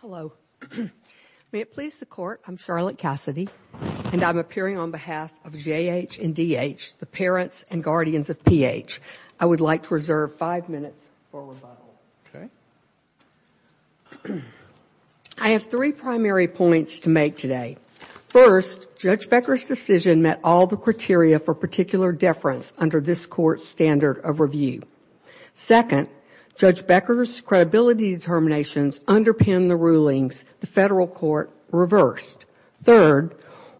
Hello. May it please the Court, I'm Charlotte Cassidy, and I'm appearing on behalf of J. H. and D. H., the parents and guardians of P. H. I would like to reserve five minutes for rebuttal. I have three primary points to make today. First, Judge Becker's decision met all the criteria for particular deference under this Court's standard of review. Second, Judge Becker's credibility determinations underpinned the rulings the Federal Court reversed. Third,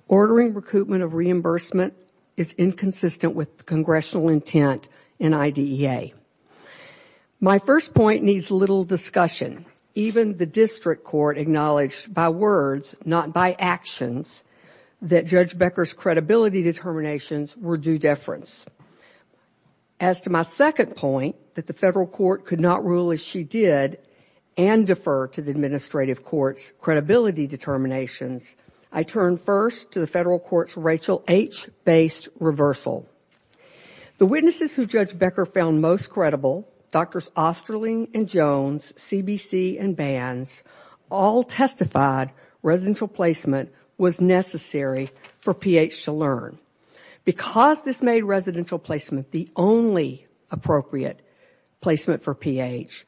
ordering recoupment of reimbursement is inconsistent with the Congressional intent in IDEA. My first point needs little discussion. Even the District Court acknowledged by words, not by actions, that Judge Becker's credibility determinations were due deference. As to my second point, that the Federal Court could not rule as she did and defer to the Administrative Court's credibility determinations, I turn first to the Federal Court's Rachel H. based reversal. The witnesses who Judge Becker found most credible, Drs. Osterling and Jones, C. B. C., and Banz, all testified residential placement was necessary for P. H. to learn. Because this made residential placement the only appropriate placement for P. H.,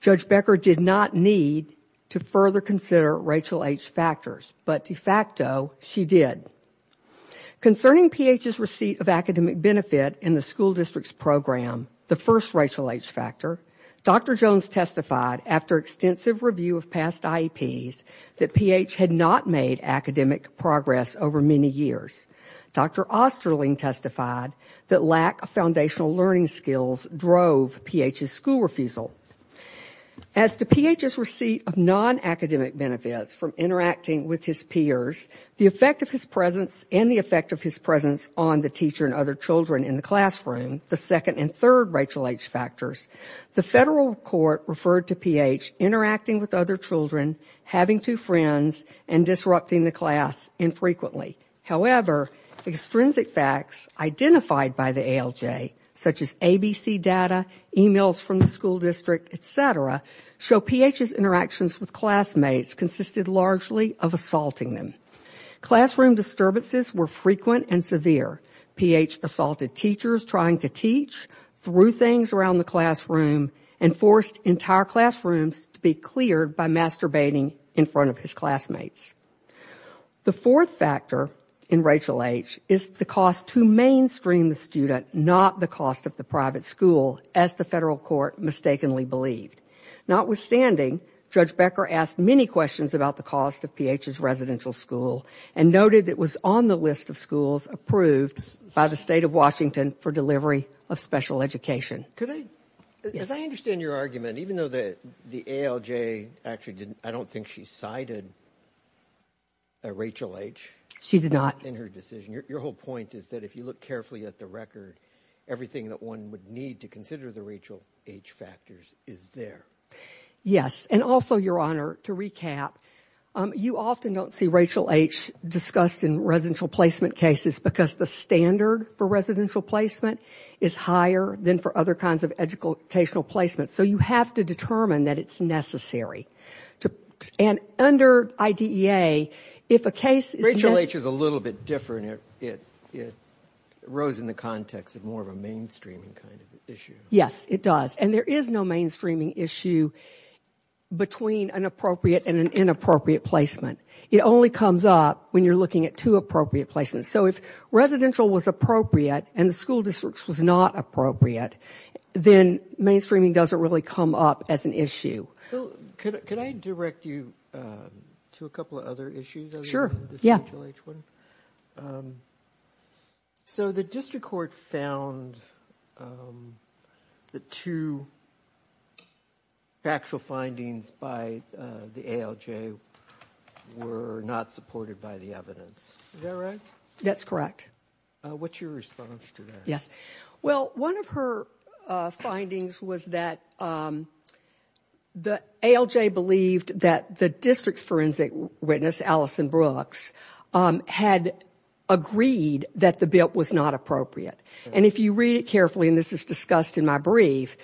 Judge Becker did not need to further consider Rachel H. factors, but de facto, she did. Concerning P. H.'s receipt of academic benefit in the school district's program, the first Rachel H. factor, Dr. Jones testified after extensive review of past IEPs that P. H. had not made academic progress over many years. Dr. Osterling testified that lack of foundational learning skills drove P. H.'s school refusal. As to P. H.'s receipt of non-academic benefits from interacting with his peers, the effect of his presence and the effect of his teacher and other children in the classroom, the second and third Rachel H. factors, the Federal Court referred to P. H. interacting with other children, having two friends, and disrupting the class infrequently. However, extrinsic facts identified by the ALJ, such as ABC data, emails from the school district, etc., show P. H.'s interactions with classmates consisted largely of assaulting them. Classroom disturbances were frequent and severe. P. H. assaulted teachers trying to teach, threw things around the classroom, and forced entire classrooms to be cleared by masturbating in front of his classmates. The fourth factor in Rachel H. is the cost to mainstream the student, not the cost of the private school, as the Federal Court mistakenly believed. Notwithstanding, Judge Becker asked many questions about the cost of P. H.'s residential school and noted it was on the list of schools approved by the State of Washington for delivery of special education. Could I, as I understand your argument, even though the ALJ actually didn't, I don't think she cited a Rachel H. She did not. In her decision. Your whole point is that if you look carefully at the record, everything that one would need to consider the Rachel H. factors is there. Yes. And also, Your Honor, to recap, you often don't see Rachel H. discussed in residential placement cases because the standard for residential placement is higher than for other kinds of educational placement. So you have to determine that it's necessary. And under IDEA, if a case is... Rachel H. is a little bit different. It arose in the context of more of a mainstreaming kind of issue. Yes, it does. And there is no mainstreaming issue between an appropriate and an inappropriate placement. It only comes up when you're looking at two appropriate placements. So if residential was appropriate and the school districts was not appropriate, then mainstreaming doesn't really come up as an issue. Could I direct you to a couple of other issues? Sure. Yeah. Yeah. So the district court found the two factual findings by the ALJ were not supported by the evidence. Is that right? That's correct. What's your response to that? Yes. Well, one of her findings was that the ALJ believed that the district's forensic witness, Alison Brooks, had agreed that the BIP was not appropriate. And if you read it carefully, and this is discussed in my brief,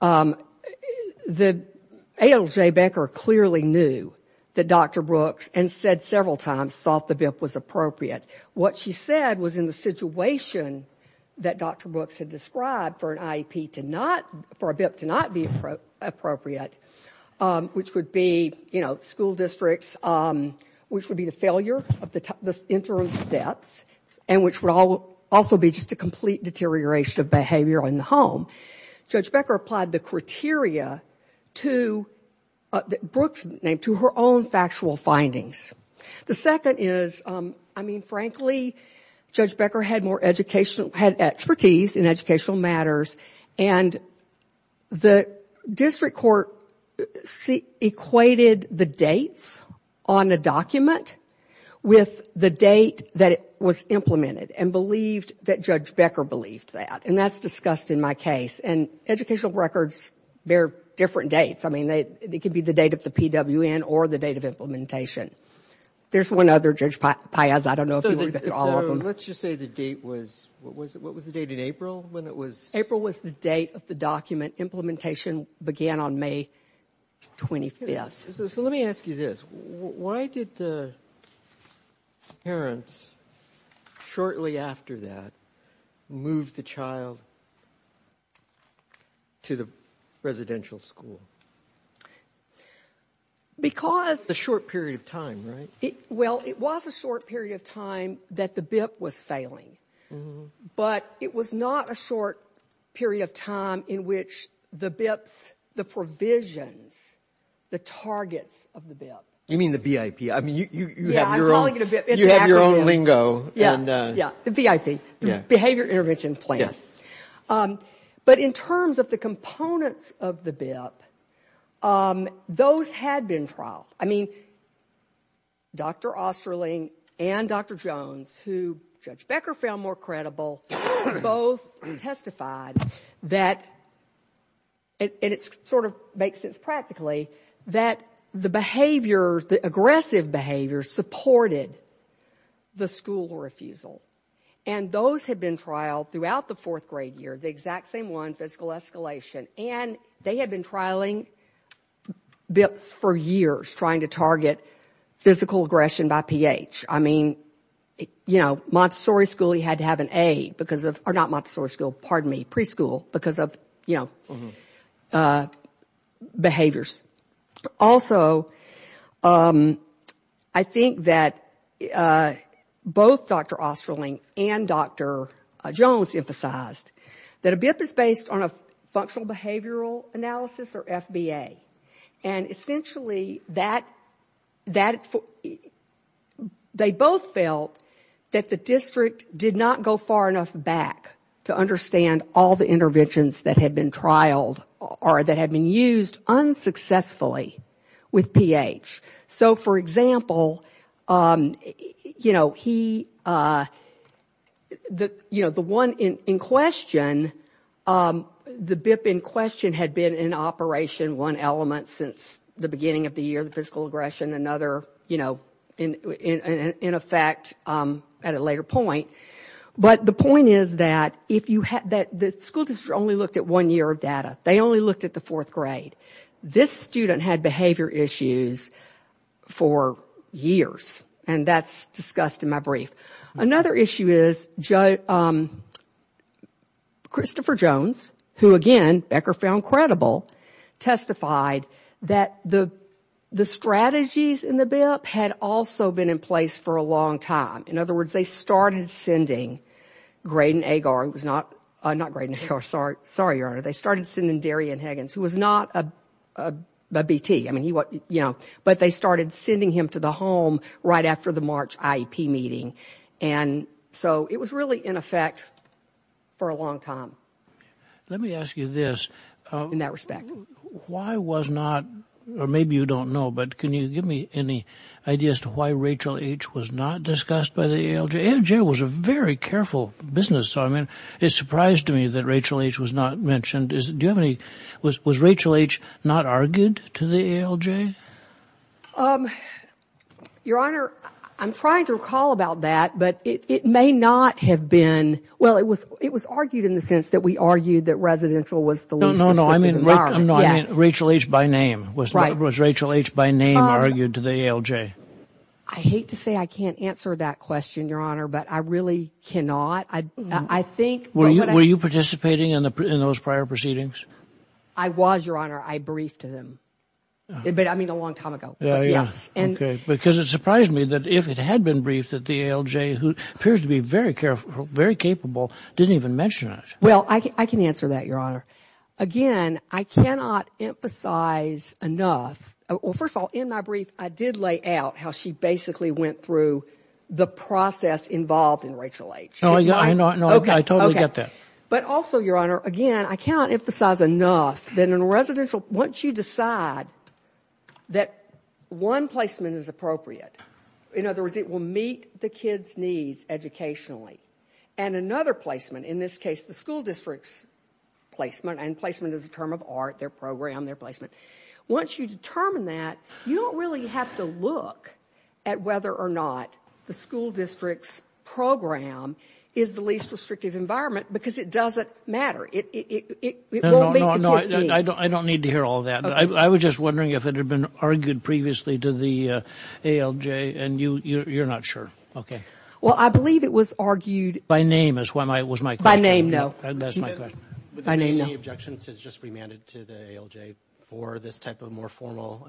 the ALJ banker clearly knew that Dr. Brooks, and said several times, thought the BIP was appropriate. What she said was in the situation that Dr. Brooks had described for an IEP to not... for a BIP to not appropriate, which would be, you know, school districts, which would be the failure of the interim steps, and which would also be just a complete deterioration of behavior in the home. Judge Becker applied the criteria to Brooks' name, to her own factual findings. The second is, I mean, frankly, Judge Becker had more education, had expertise in educational matters, and the district court equated the dates on a document with the date that it was implemented, and believed that Judge Becker believed that. And that's discussed in my case. And educational records bear different dates. I mean, it could be the date of the PWN or the date of implementation. There's one other, Judge Piazza, I don't know if you want to get to all of it. What was the date in April when it was... April was the date of the document. Implementation began on May 25th. So let me ask you this. Why did the parents, shortly after that, move the child to the residential school? Because... A short period of time, right? Well, it was a short period of time that the BIP was failing. But it was not a short period of time in which the BIPs, the provisions, the targets of the BIP... You mean the VIP? I mean, you have your own... Yeah, I'm calling it a BIP. Exactly. You have your own lingo. Yeah, yeah, the VIP, Behavior Intervention Plan. Yes. But in terms of the components of the BIP, those had been trialed. I mean, Dr. Osterling and Dr. Jones, who Judge Becker found more credible, both testified that, and it sort of makes sense practically, that the behaviors, the aggressive behaviors, supported the school refusal. And those had been trialed throughout the fourth grade year, the exact same one, physical escalation. And they had been trialing BIPs for years, trying to target physical aggression by pH. I mean, you know, Montessori school, he had to have an A because of... Or not Montessori school, pardon me, preschool, because of, you know, behaviors. Also, I think that both Dr. Osterling and Dr. Jones emphasized that a BIP is based on a functional behavioral analysis, or FBA. And essentially, they both felt that the district did not go far enough back to understand all the interventions that had been trialed or that had been used unsuccessfully with pH. So, for example, you know, the one in question, the BIP in question had been in operation one element since the beginning of the year, the physical aggression, another, you know, in effect at a later point. But the point is that the school district only looked at one year of data. They only looked at the fourth grade. This student had behavior issues for years, and that's discussed in my brief. Another issue is Christopher Jones, who again Becker found credible, testified that the strategies in the BIP had also been in place for a long time. In other words, they started sending Graydon Agar, who was not Graydon Agar, sorry, Your Honor, they started sending Darian Higgins, who was not a BT, I mean, you know, but they started sending him to the home right after the March IEP meeting. And so it was really in effect for a long time. Let me ask you this. In that respect. Why was not, or maybe you don't know, but can you give me any ideas to why Rachel H. was not discussed by the ALJ? ALJ was a very careful business, so I mean, it surprised me that Rachel H. was not mentioned. Do you have any, was Rachel H. not argued to the ALJ? Your Honor, I'm trying to recall about that, but it may not have been, well, it was argued in the sense that we argued that residential was the least restrictive environment. No, no, no, I mean Rachel H. by name. Was Rachel H. by name argued to the ALJ? I hate to say I can't answer that question, Your Honor, but I really cannot. I think. Were you participating in those prior proceedings? I was, Your Honor. I briefed to them. But I mean, a long time ago. Because it surprised me that if it had been briefed that the ALJ, who appears to be very careful, very capable, didn't even mention it. Well, I can answer that, Your Honor. Again, I cannot emphasize enough, well, first of all, in my brief, I did lay out how she basically went through the process involved in Rachel H. No, I totally get that. But also, Your Honor, again, I cannot emphasize enough that in a residential, once you decide that one placement is appropriate, in other words, it will meet the kid's needs educationally, and another placement, in this case, the school district's placement, and placement is a term of art, their program, their placement. Once you determine that, you don't really have to look at whether or not the school district's program is the least restrictive environment because it doesn't matter. It won't meet the kid's needs. I don't need to hear all that. I was just wondering if it had been argued previously to the ALJ, and you're not sure. Okay. Well, I believe it was argued. By name was my question. By name, no. That's my question. Would there be any objections to just remanding to the ALJ for this type of more formal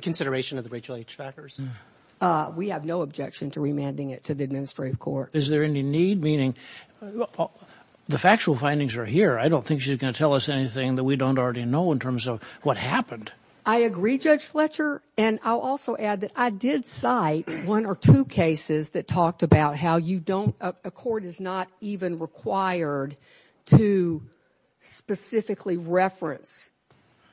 consideration of the Rachel H. Fackers? We have no objection to remanding it to the administrative court. Is there any need? Meaning, the factual findings are here. I don't think she's going to tell us anything that we don't already know in terms of what happened. I agree, Judge Fletcher, and I'll also add that I did cite one or two cases that talked about how a court is not even required to specifically reference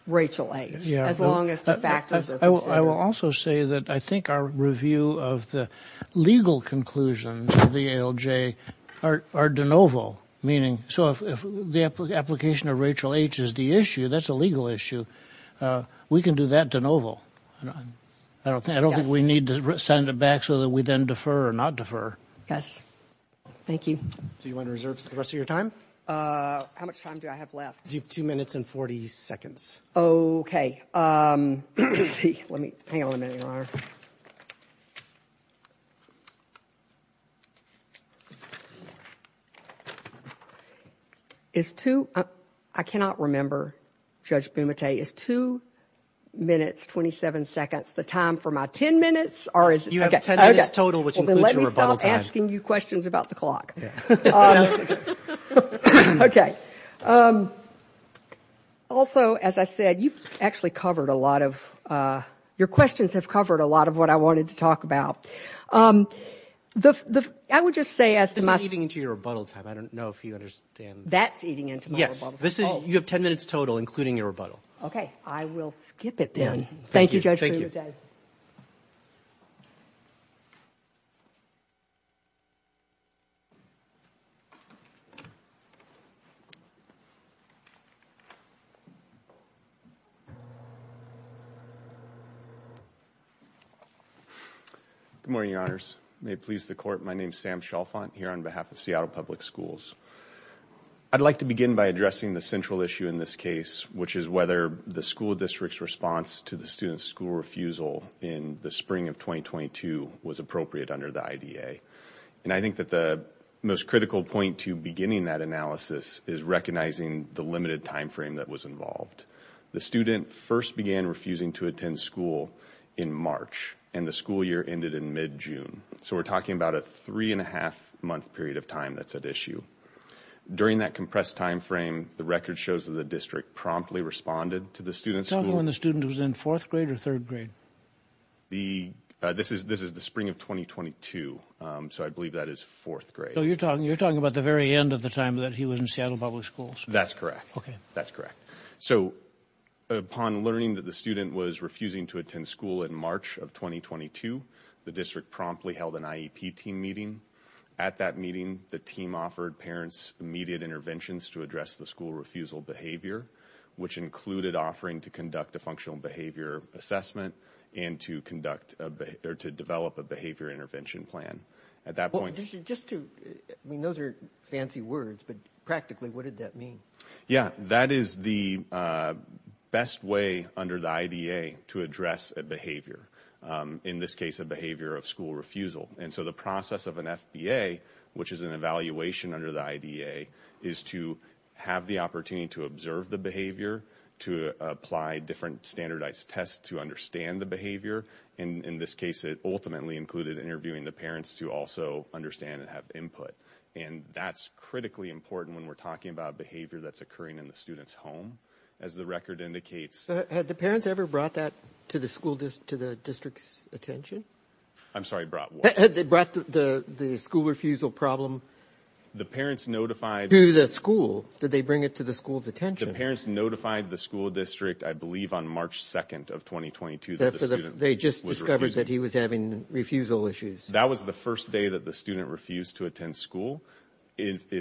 Rachel H. as long as the factors are considered. I will also say that I think our review of the legal conclusions of the ALJ are de novo, meaning, so if the application of Rachel H. is the issue, that's a legal issue, we can do that de novo. I don't think we need to send it back so that we then defer or not defer. Yes. Thank you. Do you want to reserve the rest of your time? How much time do I have left? You have 2 minutes and 40 seconds. Okay. Let me hang on a minute, Your Honor. I cannot remember, Judge Bumate, is 2 minutes 27 seconds the time for my 10 minutes, or is it? You have 10 minutes total, which includes your rebuttal. I'm going to stop asking you questions about the clock. Okay. Also, as I said, you've actually covered a lot of, your questions have covered a lot of what I wanted to talk about. I would just say as to my... This is eating into your rebuttal time. I don't know if you understand. That's eating into my rebuttal time. Yes. You have 10 minutes total, including your rebuttal. Okay. I will skip it then. Thank you, Judge Bumate. Good morning, Your Honors. May it please the court. My name is Sam Chalfant here on behalf of Seattle Public Schools. I'd like to begin by addressing the central issue in this case, which is whether the school district's response to the student's school refusal in the spring of 2022 was appropriate under the IDA. And I think that the most critical point to beginning that analysis is recognizing the limited timeframe that was involved. The student first began refusing to attend school in March, and the school year ended in mid-June. So we're talking about a three and a half month period of time that's at issue. During that compressed timeframe, the record shows that the district promptly responded to the student's school... Tell me when the student was in fourth grade or third grade. The... This is the spring of 2022, so I believe that is fourth grade. So you're talking about the very end of the time that he was in Seattle Public Schools? That's correct. Okay. That's correct. So upon learning that the student was refusing to attend school in March of 2022, the district promptly held an IEP team meeting. At that meeting, the team offered parents immediate interventions to address the school refusal behavior, which included offering to conduct a functional behavior assessment and to conduct or to develop a behavior intervention plan. At that point... Just to... I mean, those are fancy words, but practically, what did that mean? Yeah, that is the best way under the IDA to address a behavior. In this case, a behavior of school refusal. And so the process of an FBA, which is an evaluation under the IDA, is to have the opportunity to observe the behavior, to apply different standardized tests to understand the behavior. And in this case, it ultimately included interviewing the parents to also understand and have input. And that's critically important when we're talking about behavior that's occurring in the student's home. As the record indicates... Had the parents ever brought that to the school... to the district's attention? I'm sorry, brought what? Had they brought the school refusal problem... The parents notified... ...to the school? Did they bring it to the school's attention? The parents notified the school district, I believe, on March 2nd of 2022... They just discovered that he was having refusal issues. That was the first day that the student refused to attend school. If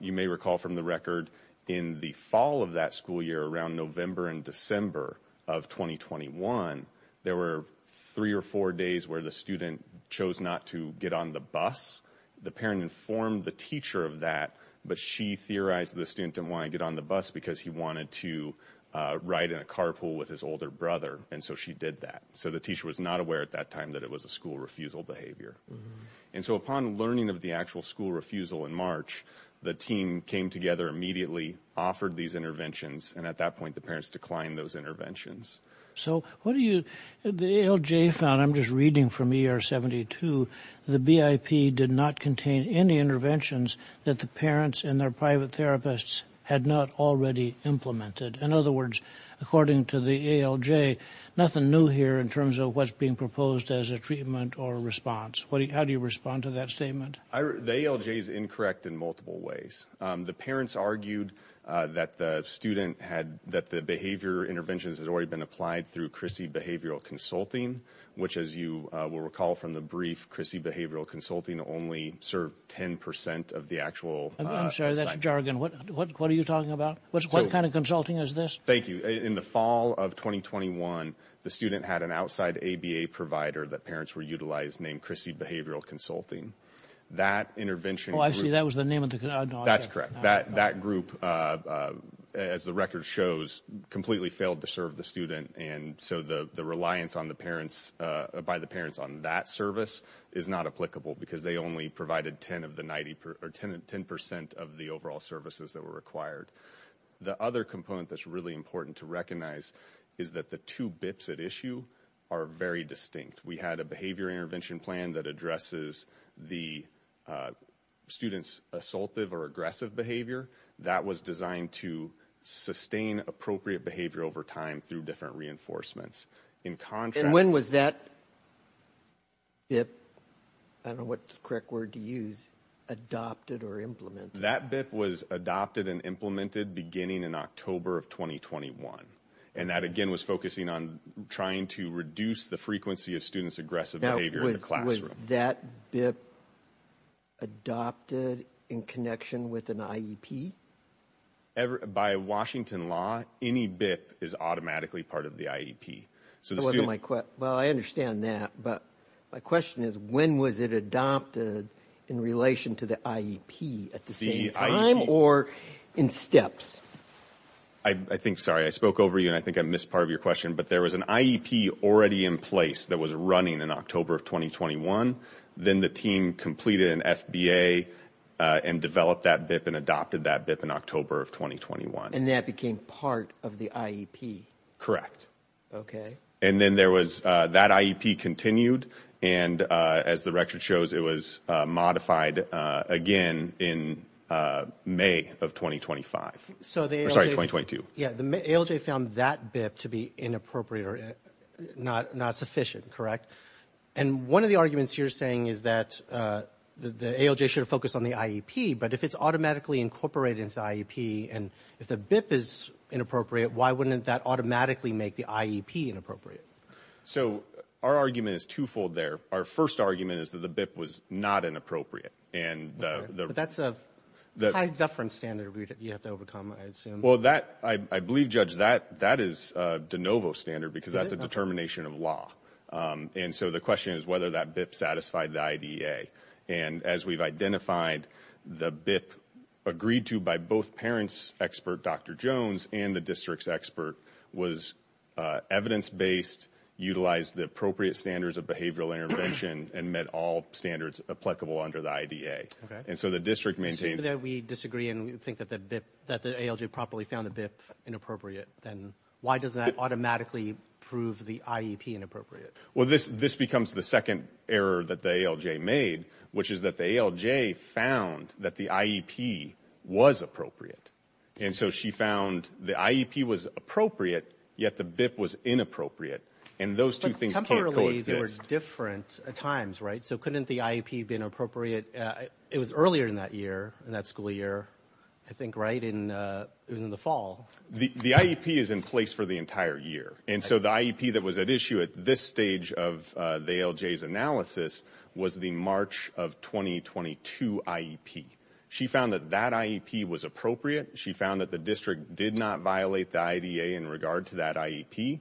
you may recall from the record, in the fall of that school year, around November and December of 2021, there were three or four days where the student chose not to get on the bus. The parent informed the teacher of that, but she theorized the student didn't want to get on the bus because he wanted to ride in a carpool with his older brother. And so she did that. So the teacher was not aware at that time that it was a school refusal behavior. And so upon learning of the actual school refusal in March, the team came together immediately, offered these interventions, and at that point, the parents declined those interventions. So what do you... The ALJ found, I'm just reading from ER 72, the BIP did not contain any interventions that the parents and their private therapists had not already implemented. In other words, according to the ALJ, nothing new here in terms of what's being proposed as a treatment or a response. How do you respond to that statement? The ALJ is incorrect in multiple ways. The parents argued that the student had... that the behavior interventions had already been applied through CRISI behavioral consulting, which as you will recall from the brief, CRISI behavioral consulting only served 10% of the actual... I'm sorry, that's jargon. What are you talking about? What kind of consulting is this? Thank you. In the fall of 2021, the student had an outside ABA provider that parents were utilizing named CRISI behavioral consulting. That intervention... Oh, I see. That was the name of the... That's correct. That group, as the record shows, completely failed to serve the student. So the reliance by the parents on that service is not applicable because they only provided 10% of the overall services that were required. The other component that's really important to recognize is that the two BIPs at issue are very distinct. We had a behavior intervention plan that addresses the student's assaultive or aggressive behavior. That was designed to sustain appropriate behavior over time through different reinforcements. In contrast... And when was that BIP, I don't know what correct word to use, adopted or implemented? That BIP was adopted and implemented beginning in October of 2021. And that again was focusing on trying to reduce the frequency of students' aggressive behavior in the classroom. Was that BIP adopted in connection with an IEP? By Washington law, any BIP is automatically part of the IEP. So the student... Well, I understand that. But my question is, when was it adopted in relation to the IEP at the same time or in steps? I think, sorry, I spoke over you and I think I missed part of your question. But there was an IEP already in place that was running in October of 2021. Then the team completed an FBA and developed that BIP and adopted that BIP in October of 2021. And that became part of the IEP? Okay. And then there was, that IEP continued. And as the record shows, it was modified again in May of 2025. So the ALJ found that BIP to be inappropriate or not sufficient, correct? And one of the arguments you're saying is that the ALJ should have focused on the IEP, but if it's automatically incorporated into IEP and if the BIP is inappropriate, why wouldn't that automatically make the IEP inappropriate? So our argument is twofold there. Our first argument is that the BIP was not inappropriate. And the... That's a high deference standard you have to overcome, I assume. Well, I believe, Judge, that is a de novo standard because that's a determination of law. And so the question is whether that BIP satisfied the IDEA. And as we've identified, the BIP agreed to by both parents' expert, Dr. Jones, and the district's expert was evidence-based, utilized the appropriate standards of behavioral intervention, and met all standards applicable under the IDEA. And so the district maintains... So that we disagree and we think that the BIP, that the ALJ properly found the BIP inappropriate, then why doesn't that automatically prove the IEP inappropriate? Well, this becomes the second error that the ALJ made, which is that the ALJ found that the IEP was appropriate. And so she found the IEP was appropriate, yet the BIP was inappropriate. And those two things can't coexist. Temporarily, they were different times, right? So couldn't the IEP been appropriate... It was earlier in that year, in that school year, I think, right? And it was in the fall. The IEP is in place for the entire year. And so the IEP that was at issue at this stage of the ALJ's analysis was the March of 2022 IEP. She found that that IEP was appropriate. She found that the district did not violate the IDEA in regard to that IEP.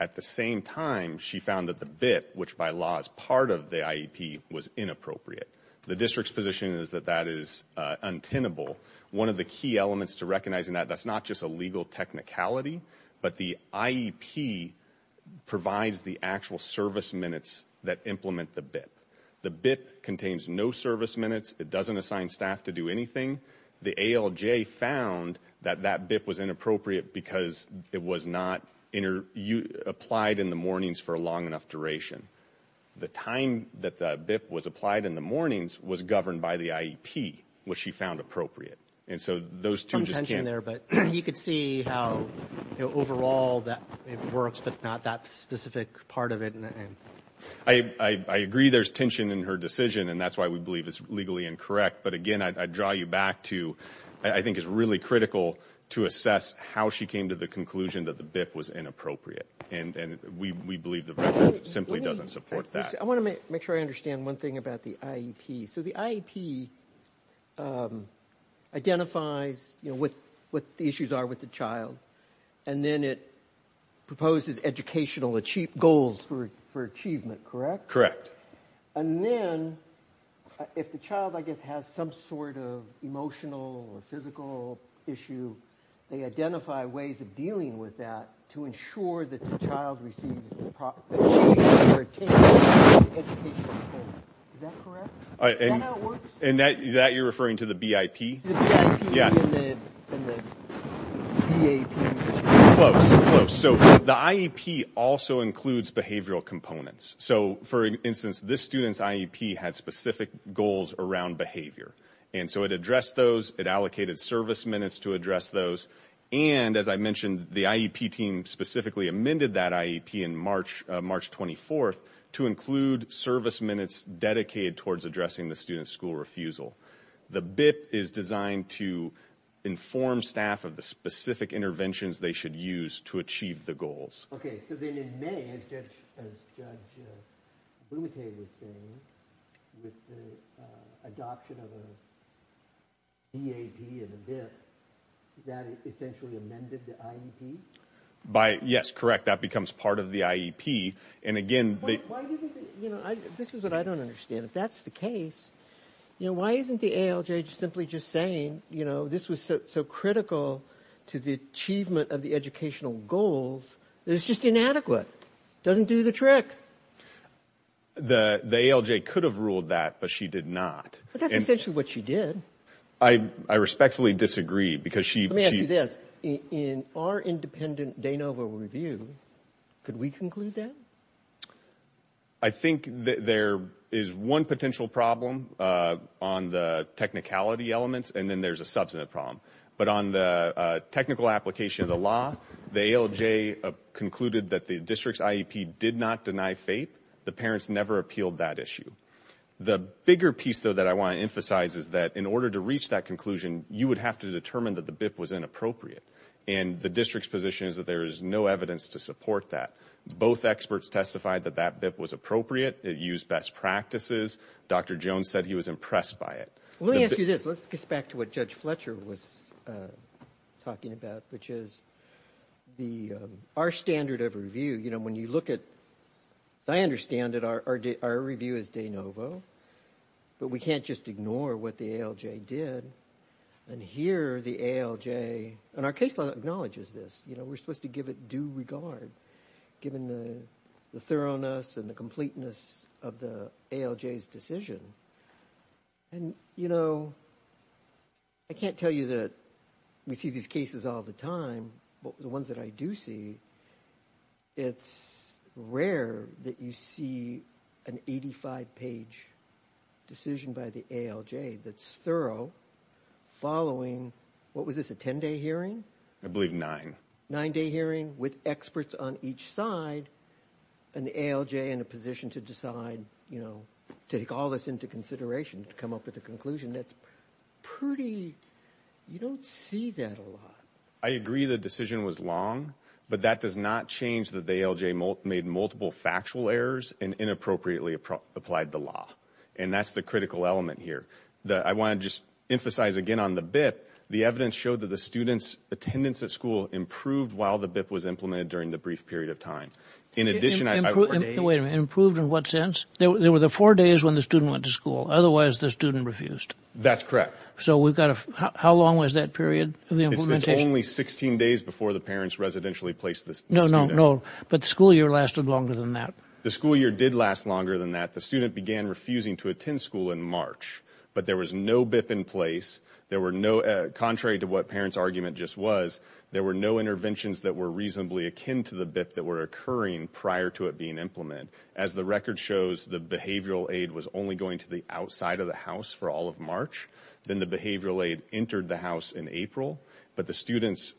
At the same time, she found that the BIP, which by law is part of the IEP, was inappropriate. The district's position is that that is untenable. One of the key elements to recognizing that, that's not just a legal technicality, but the IEP provides the actual service minutes that implement the BIP. The BIP contains no service minutes. It doesn't assign staff to do anything. The ALJ found that that BIP was inappropriate because it was not applied in the mornings for a long enough duration. The time that the BIP was applied in the mornings was governed by the IEP, which she found appropriate. And so those two just can't... You could see how, you know, overall that it works, but not that specific part of it. I agree there's tension in her decision, and that's why we believe it's legally incorrect. But again, I draw you back to, I think it's really critical to assess how she came to the conclusion that the BIP was inappropriate. And we believe the record simply doesn't support that. I want to make sure I understand one thing about the IEP. So the IEP identifies, you know, what the issues are with the child, and then it proposes educational goals for achievement, correct? Correct. And then, if the child, I guess, has some sort of emotional or physical issue, they identify ways of dealing with that to ensure that the child receives the achievement or attainment of the educational goal. Is that correct? And that you're referring to the BIP? The BIP and the BAP. Close, close. So the IEP also includes behavioral components. So for instance, this student's IEP had specific goals around behavior. And so it addressed those. It allocated service minutes to address those. And as I mentioned, the IEP team specifically amended that IEP in March 24th to include service minutes dedicated towards addressing the student's school refusal. The BIP is designed to inform staff of the specific interventions they should use to achieve the goals. Okay, so then in May, as Judge Blumenthal was saying, with the adoption of a BAP and a BIP, that essentially amended the IEP? Yes, correct. That becomes part of the IEP. And again... This is what I don't understand. If that's the case, you know, why isn't the ALJ just simply just saying, you know, this was so critical to the achievement of the educational goals, that it's just inadequate? Doesn't do the trick. The ALJ could have ruled that, but she did not. But that's essentially what she did. I respectfully disagree because she... Let me ask you this. In our independent de novo review, could we conclude that? I think there is one potential problem on the technicality elements, and then there's a substantive problem. But on the technical application of the law, the ALJ concluded that the district's IEP did not deny FAPE. The parents never appealed that issue. The bigger piece, though, that I want to emphasize is that in order to reach that conclusion, you would have to determine that the BIP was inappropriate. And the district's position is that there is no evidence to support that. Both experts testified that that BIP was appropriate. It used best practices. Dr. Jones said he was impressed by it. Let me ask you this. Let's get back to what Judge Fletcher was talking about, which is our standard of review. You know, when you look at... As I understand it, our review is de novo. But we can't just ignore what the ALJ did. And here the ALJ... And our case law acknowledges this. You know, we're supposed to give it due regard. Given the thoroughness and the completeness of the ALJ's decision. And, you know, I can't tell you that we see these cases all the time. But the ones that I do see, it's rare that you see an 85-page decision by the ALJ that's thorough following... What was this, a 10-day hearing? I believe nine. Nine-day hearing with experts on each side. And the ALJ in a position to decide, you know, to take all this into consideration, to come up with a conclusion that's pretty... You don't see that a lot. I agree the decision was long. But that does not change that the ALJ made multiple factual errors and inappropriately applied the law. And that's the critical element here. I want to just emphasize again on the BIP. The evidence showed that the students' attendance at school improved while the BIP was implemented during the brief period of time. In addition, I... Wait a minute. Improved in what sense? There were the four days when the student went to school. Otherwise, the student refused. That's correct. So we've got to... How long was that period of the implementation? It's only 16 days before the parents residentially placed the student. No, no, no. But the school year lasted longer than that. The school year did last longer than that. The student began refusing to attend school in March. But there was no BIP in place. There were no... Contrary to what parents' argument just was, there were no interventions that were reasonably akin to the BIP that were occurring prior to it being implemented. As the record shows, the behavioral aid was only going to the outside of the house for all of March. Then the behavioral aid entered the house in April. But the student's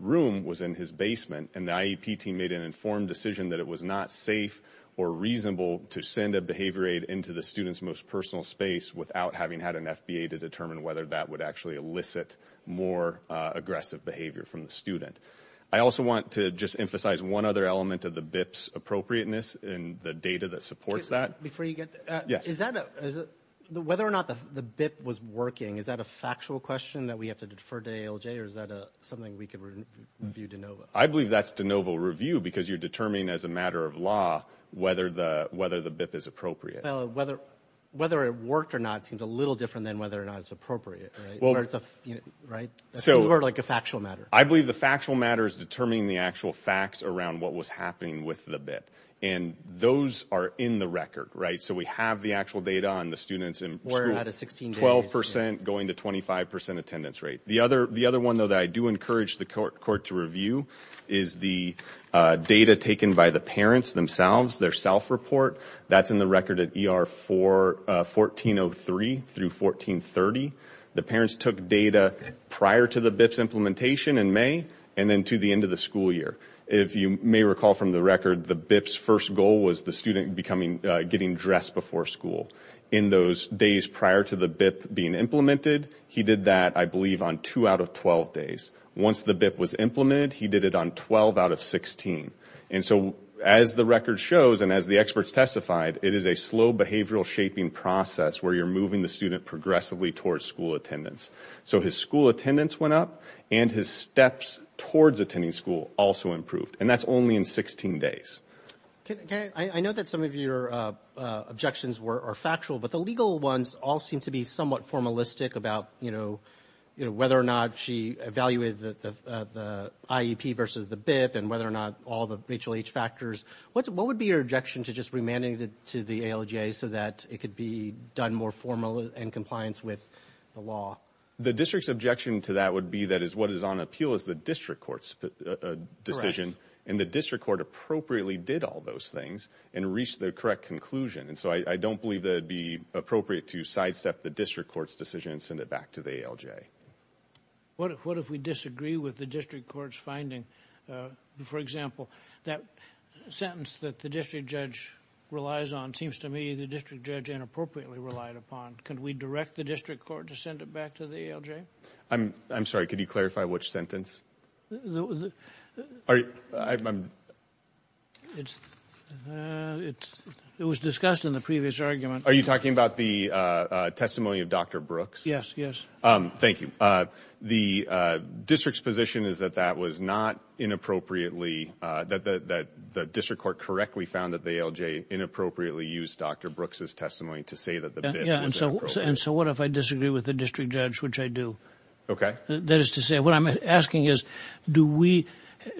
room was in his basement. And the IEP team made an informed decision that it was not safe or reasonable to send a behavior aid into the student's most personal space without having had an FBA to determine whether that would actually elicit more aggressive behavior from the student. I also want to just emphasize one other element of the BIP's appropriateness in the data that supports that. Before you get... Yes. Is that... Whether or not the BIP was working, is that a factual question that we have to defer to ALJ? Or is that something we could review de novo? I believe that's de novo review because you're determining as a matter of law whether the BIP is appropriate. Whether it worked or not seems a little different than whether or not it's appropriate, right? Well... Or it's a... Right? So... Or like a factual matter. I believe the factual matter is determining the actual facts around what was happening with the BIP. And those are in the record, right? So we have the actual data on the students in school. We're at a 16 days. 12% going to 25% attendance rate. The other one, though, that I do encourage the court to review is the data taken by the parents themselves, their self-report. That's in the record at ER 1403 through 1430. The parents took data prior to the BIP's implementation in May and then to the end of the school year. If you may recall from the record, the BIP's first goal was the student getting dressed before school. In those days prior to the BIP being implemented, he did that, I believe, on two out of 12 days. Once the BIP was implemented, he did it on 12 out of 16. And so as the record shows and as the experts testified, it is a slow behavioral shaping process where you're moving the student progressively towards school attendance. So his school attendance went up and his steps towards attending school also improved. And that's only in 16 days. Okay, I know that some of your objections are factual, but the legal ones all seem to be somewhat formalistic about, you know, whether or not she evaluated the IEP versus the BIP and whether or not all the HLH factors. What would be your objection to just remanding it to the ALJ so that it could be done more formally in compliance with the law? The district's objection to that would be that is what is on appeal is the district court's decision and the district court appropriately did all those things and reached the correct conclusion. And so I don't believe that it'd be appropriate to sidestep the district court's decision and send it back to the ALJ. What if we disagree with the district court's finding? For example, that sentence that the district judge relies on seems to me the district judge inappropriately relied upon. Can we direct the district court to send it back to the ALJ? I'm sorry, could you clarify which sentence? It was discussed in the previous argument. Are you talking about the testimony of Dr. Brooks? Yes, yes. Thank you. The district's position is that that was not inappropriately, that the district court correctly found that the ALJ inappropriately used Dr. Brooks's testimony to say that the bid was inappropriate. And so what if I disagree with the district judge, which I do? Okay. That is to say, what I'm asking is,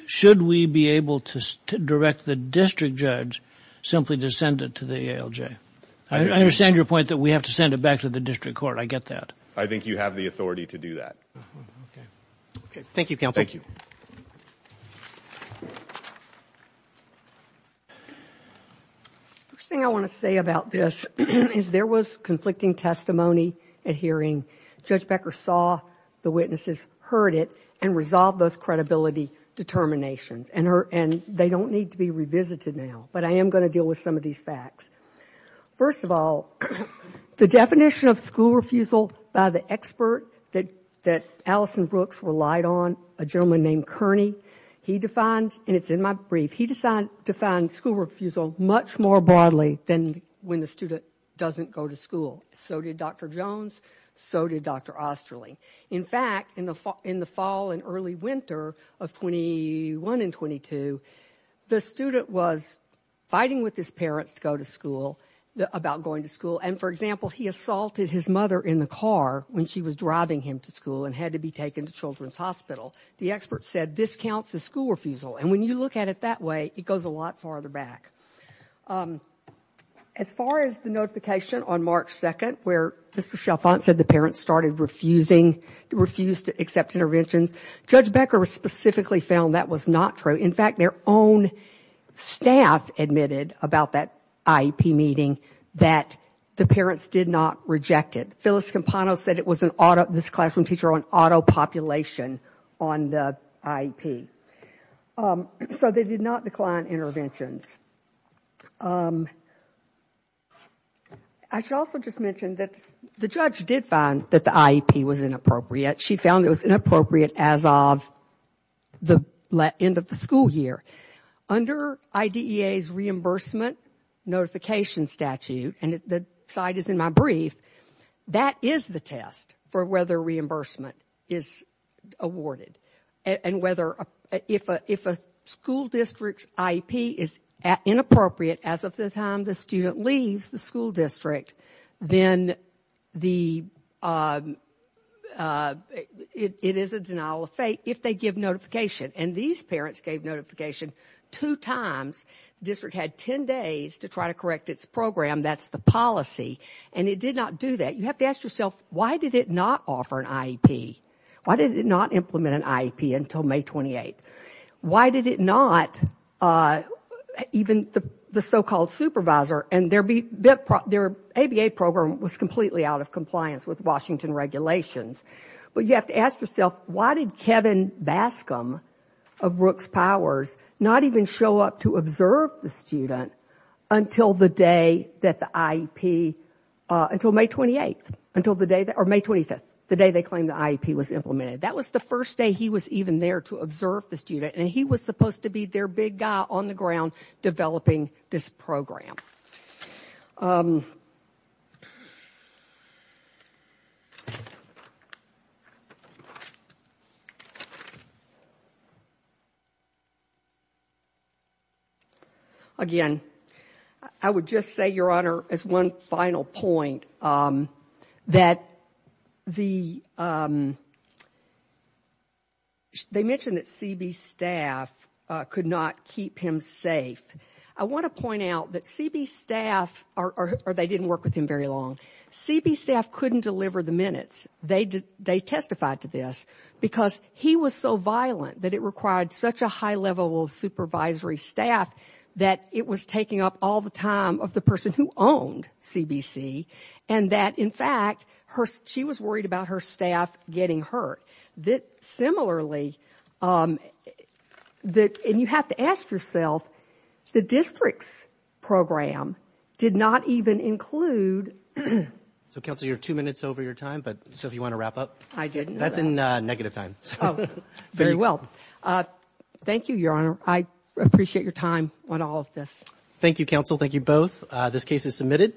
should we be able to direct the district judge simply to send it to the ALJ? I understand your point that we have to send it back to the district court. I get that. I think you have the authority to do that. Okay, okay. Thank you, counsel. Thank you. First thing I want to say about this is there was conflicting testimony at hearing. Judge Becker saw the witnesses, heard it, and resolved those credibility determinations. And they don't need to be revisited now. But I am going to deal with some of these facts. First of all, the definition of school refusal by the expert that Allison Brooks relied on, a gentleman named Kearney, he defines, and it's in my brief, he decided to find school refusal much more broadly than when the student doesn't go to school. So did Dr. Jones. So did Dr. Osterling. In fact, in the fall and early winter of 21 and 22, the student was fighting with his parents to go to school, about going to school. And for example, he assaulted his mother in the car when she was driving him to school and had to be taken to Children's Hospital. The expert said, this counts as school refusal. And when you look at it that way, it goes a lot farther back. As far as the notification on March 2nd, where Mr. Chalfant said the parents started refusing, refused to accept interventions, Judge Becker specifically found that was not true. In fact, their own staff admitted about that IEP meeting that the parents did not reject it. Phyllis Campano said it was an auto, this classroom teacher, an auto-population on the IEP. So they did not decline interventions. I should also just mention that the judge did find that the IEP was inappropriate. She found it was inappropriate as of the end of the school year. Under IDEA's reimbursement notification statute, and the slide is in my brief, that is the test for whether reimbursement is awarded. And whether, if a school district's IEP is inappropriate as of the time the student leaves the school district, then it is a denial of faith if they give notification. And these parents gave notification two times. District had 10 days to try to correct its program. That's the policy. And it did not do that. You have to ask yourself, why did it not offer an IEP? Why did it not implement an IEP until May 28th? Why did it not, even the so-called supervisor, and their ABA program was completely out of compliance with Washington regulations. But you have to ask yourself, why did Kevin Bascom of Rooks Powers not even show up to observe the student until the day that the IEP, until May 28th, or May 25th, the day they claimed the IEP was implemented. That was the first day he was even there to observe the student. And he was supposed to be their big guy on the ground developing this program. Again, I would just say, Your Honor, as one final point, that the, they mentioned that CB staff could not keep him safe. I want to point out that CB staff, or they didn't work with him very long, CB staff couldn't deliver the minutes. They testified to this because he was so violent that it required such a high level of supervisory staff that it was taking up all the time of the person who owned CBC, and that, in fact, she was worried about her staff getting hurt. Similarly, and you have to ask yourself, the district's program did not even include... So, Counselor, you're two minutes over your time, so if you want to wrap up. I didn't. That's in negative time. Very well. Thank you, Your Honor. I appreciate your time on all of this. Thank you, Counsel. Thank you both. This case is submitted.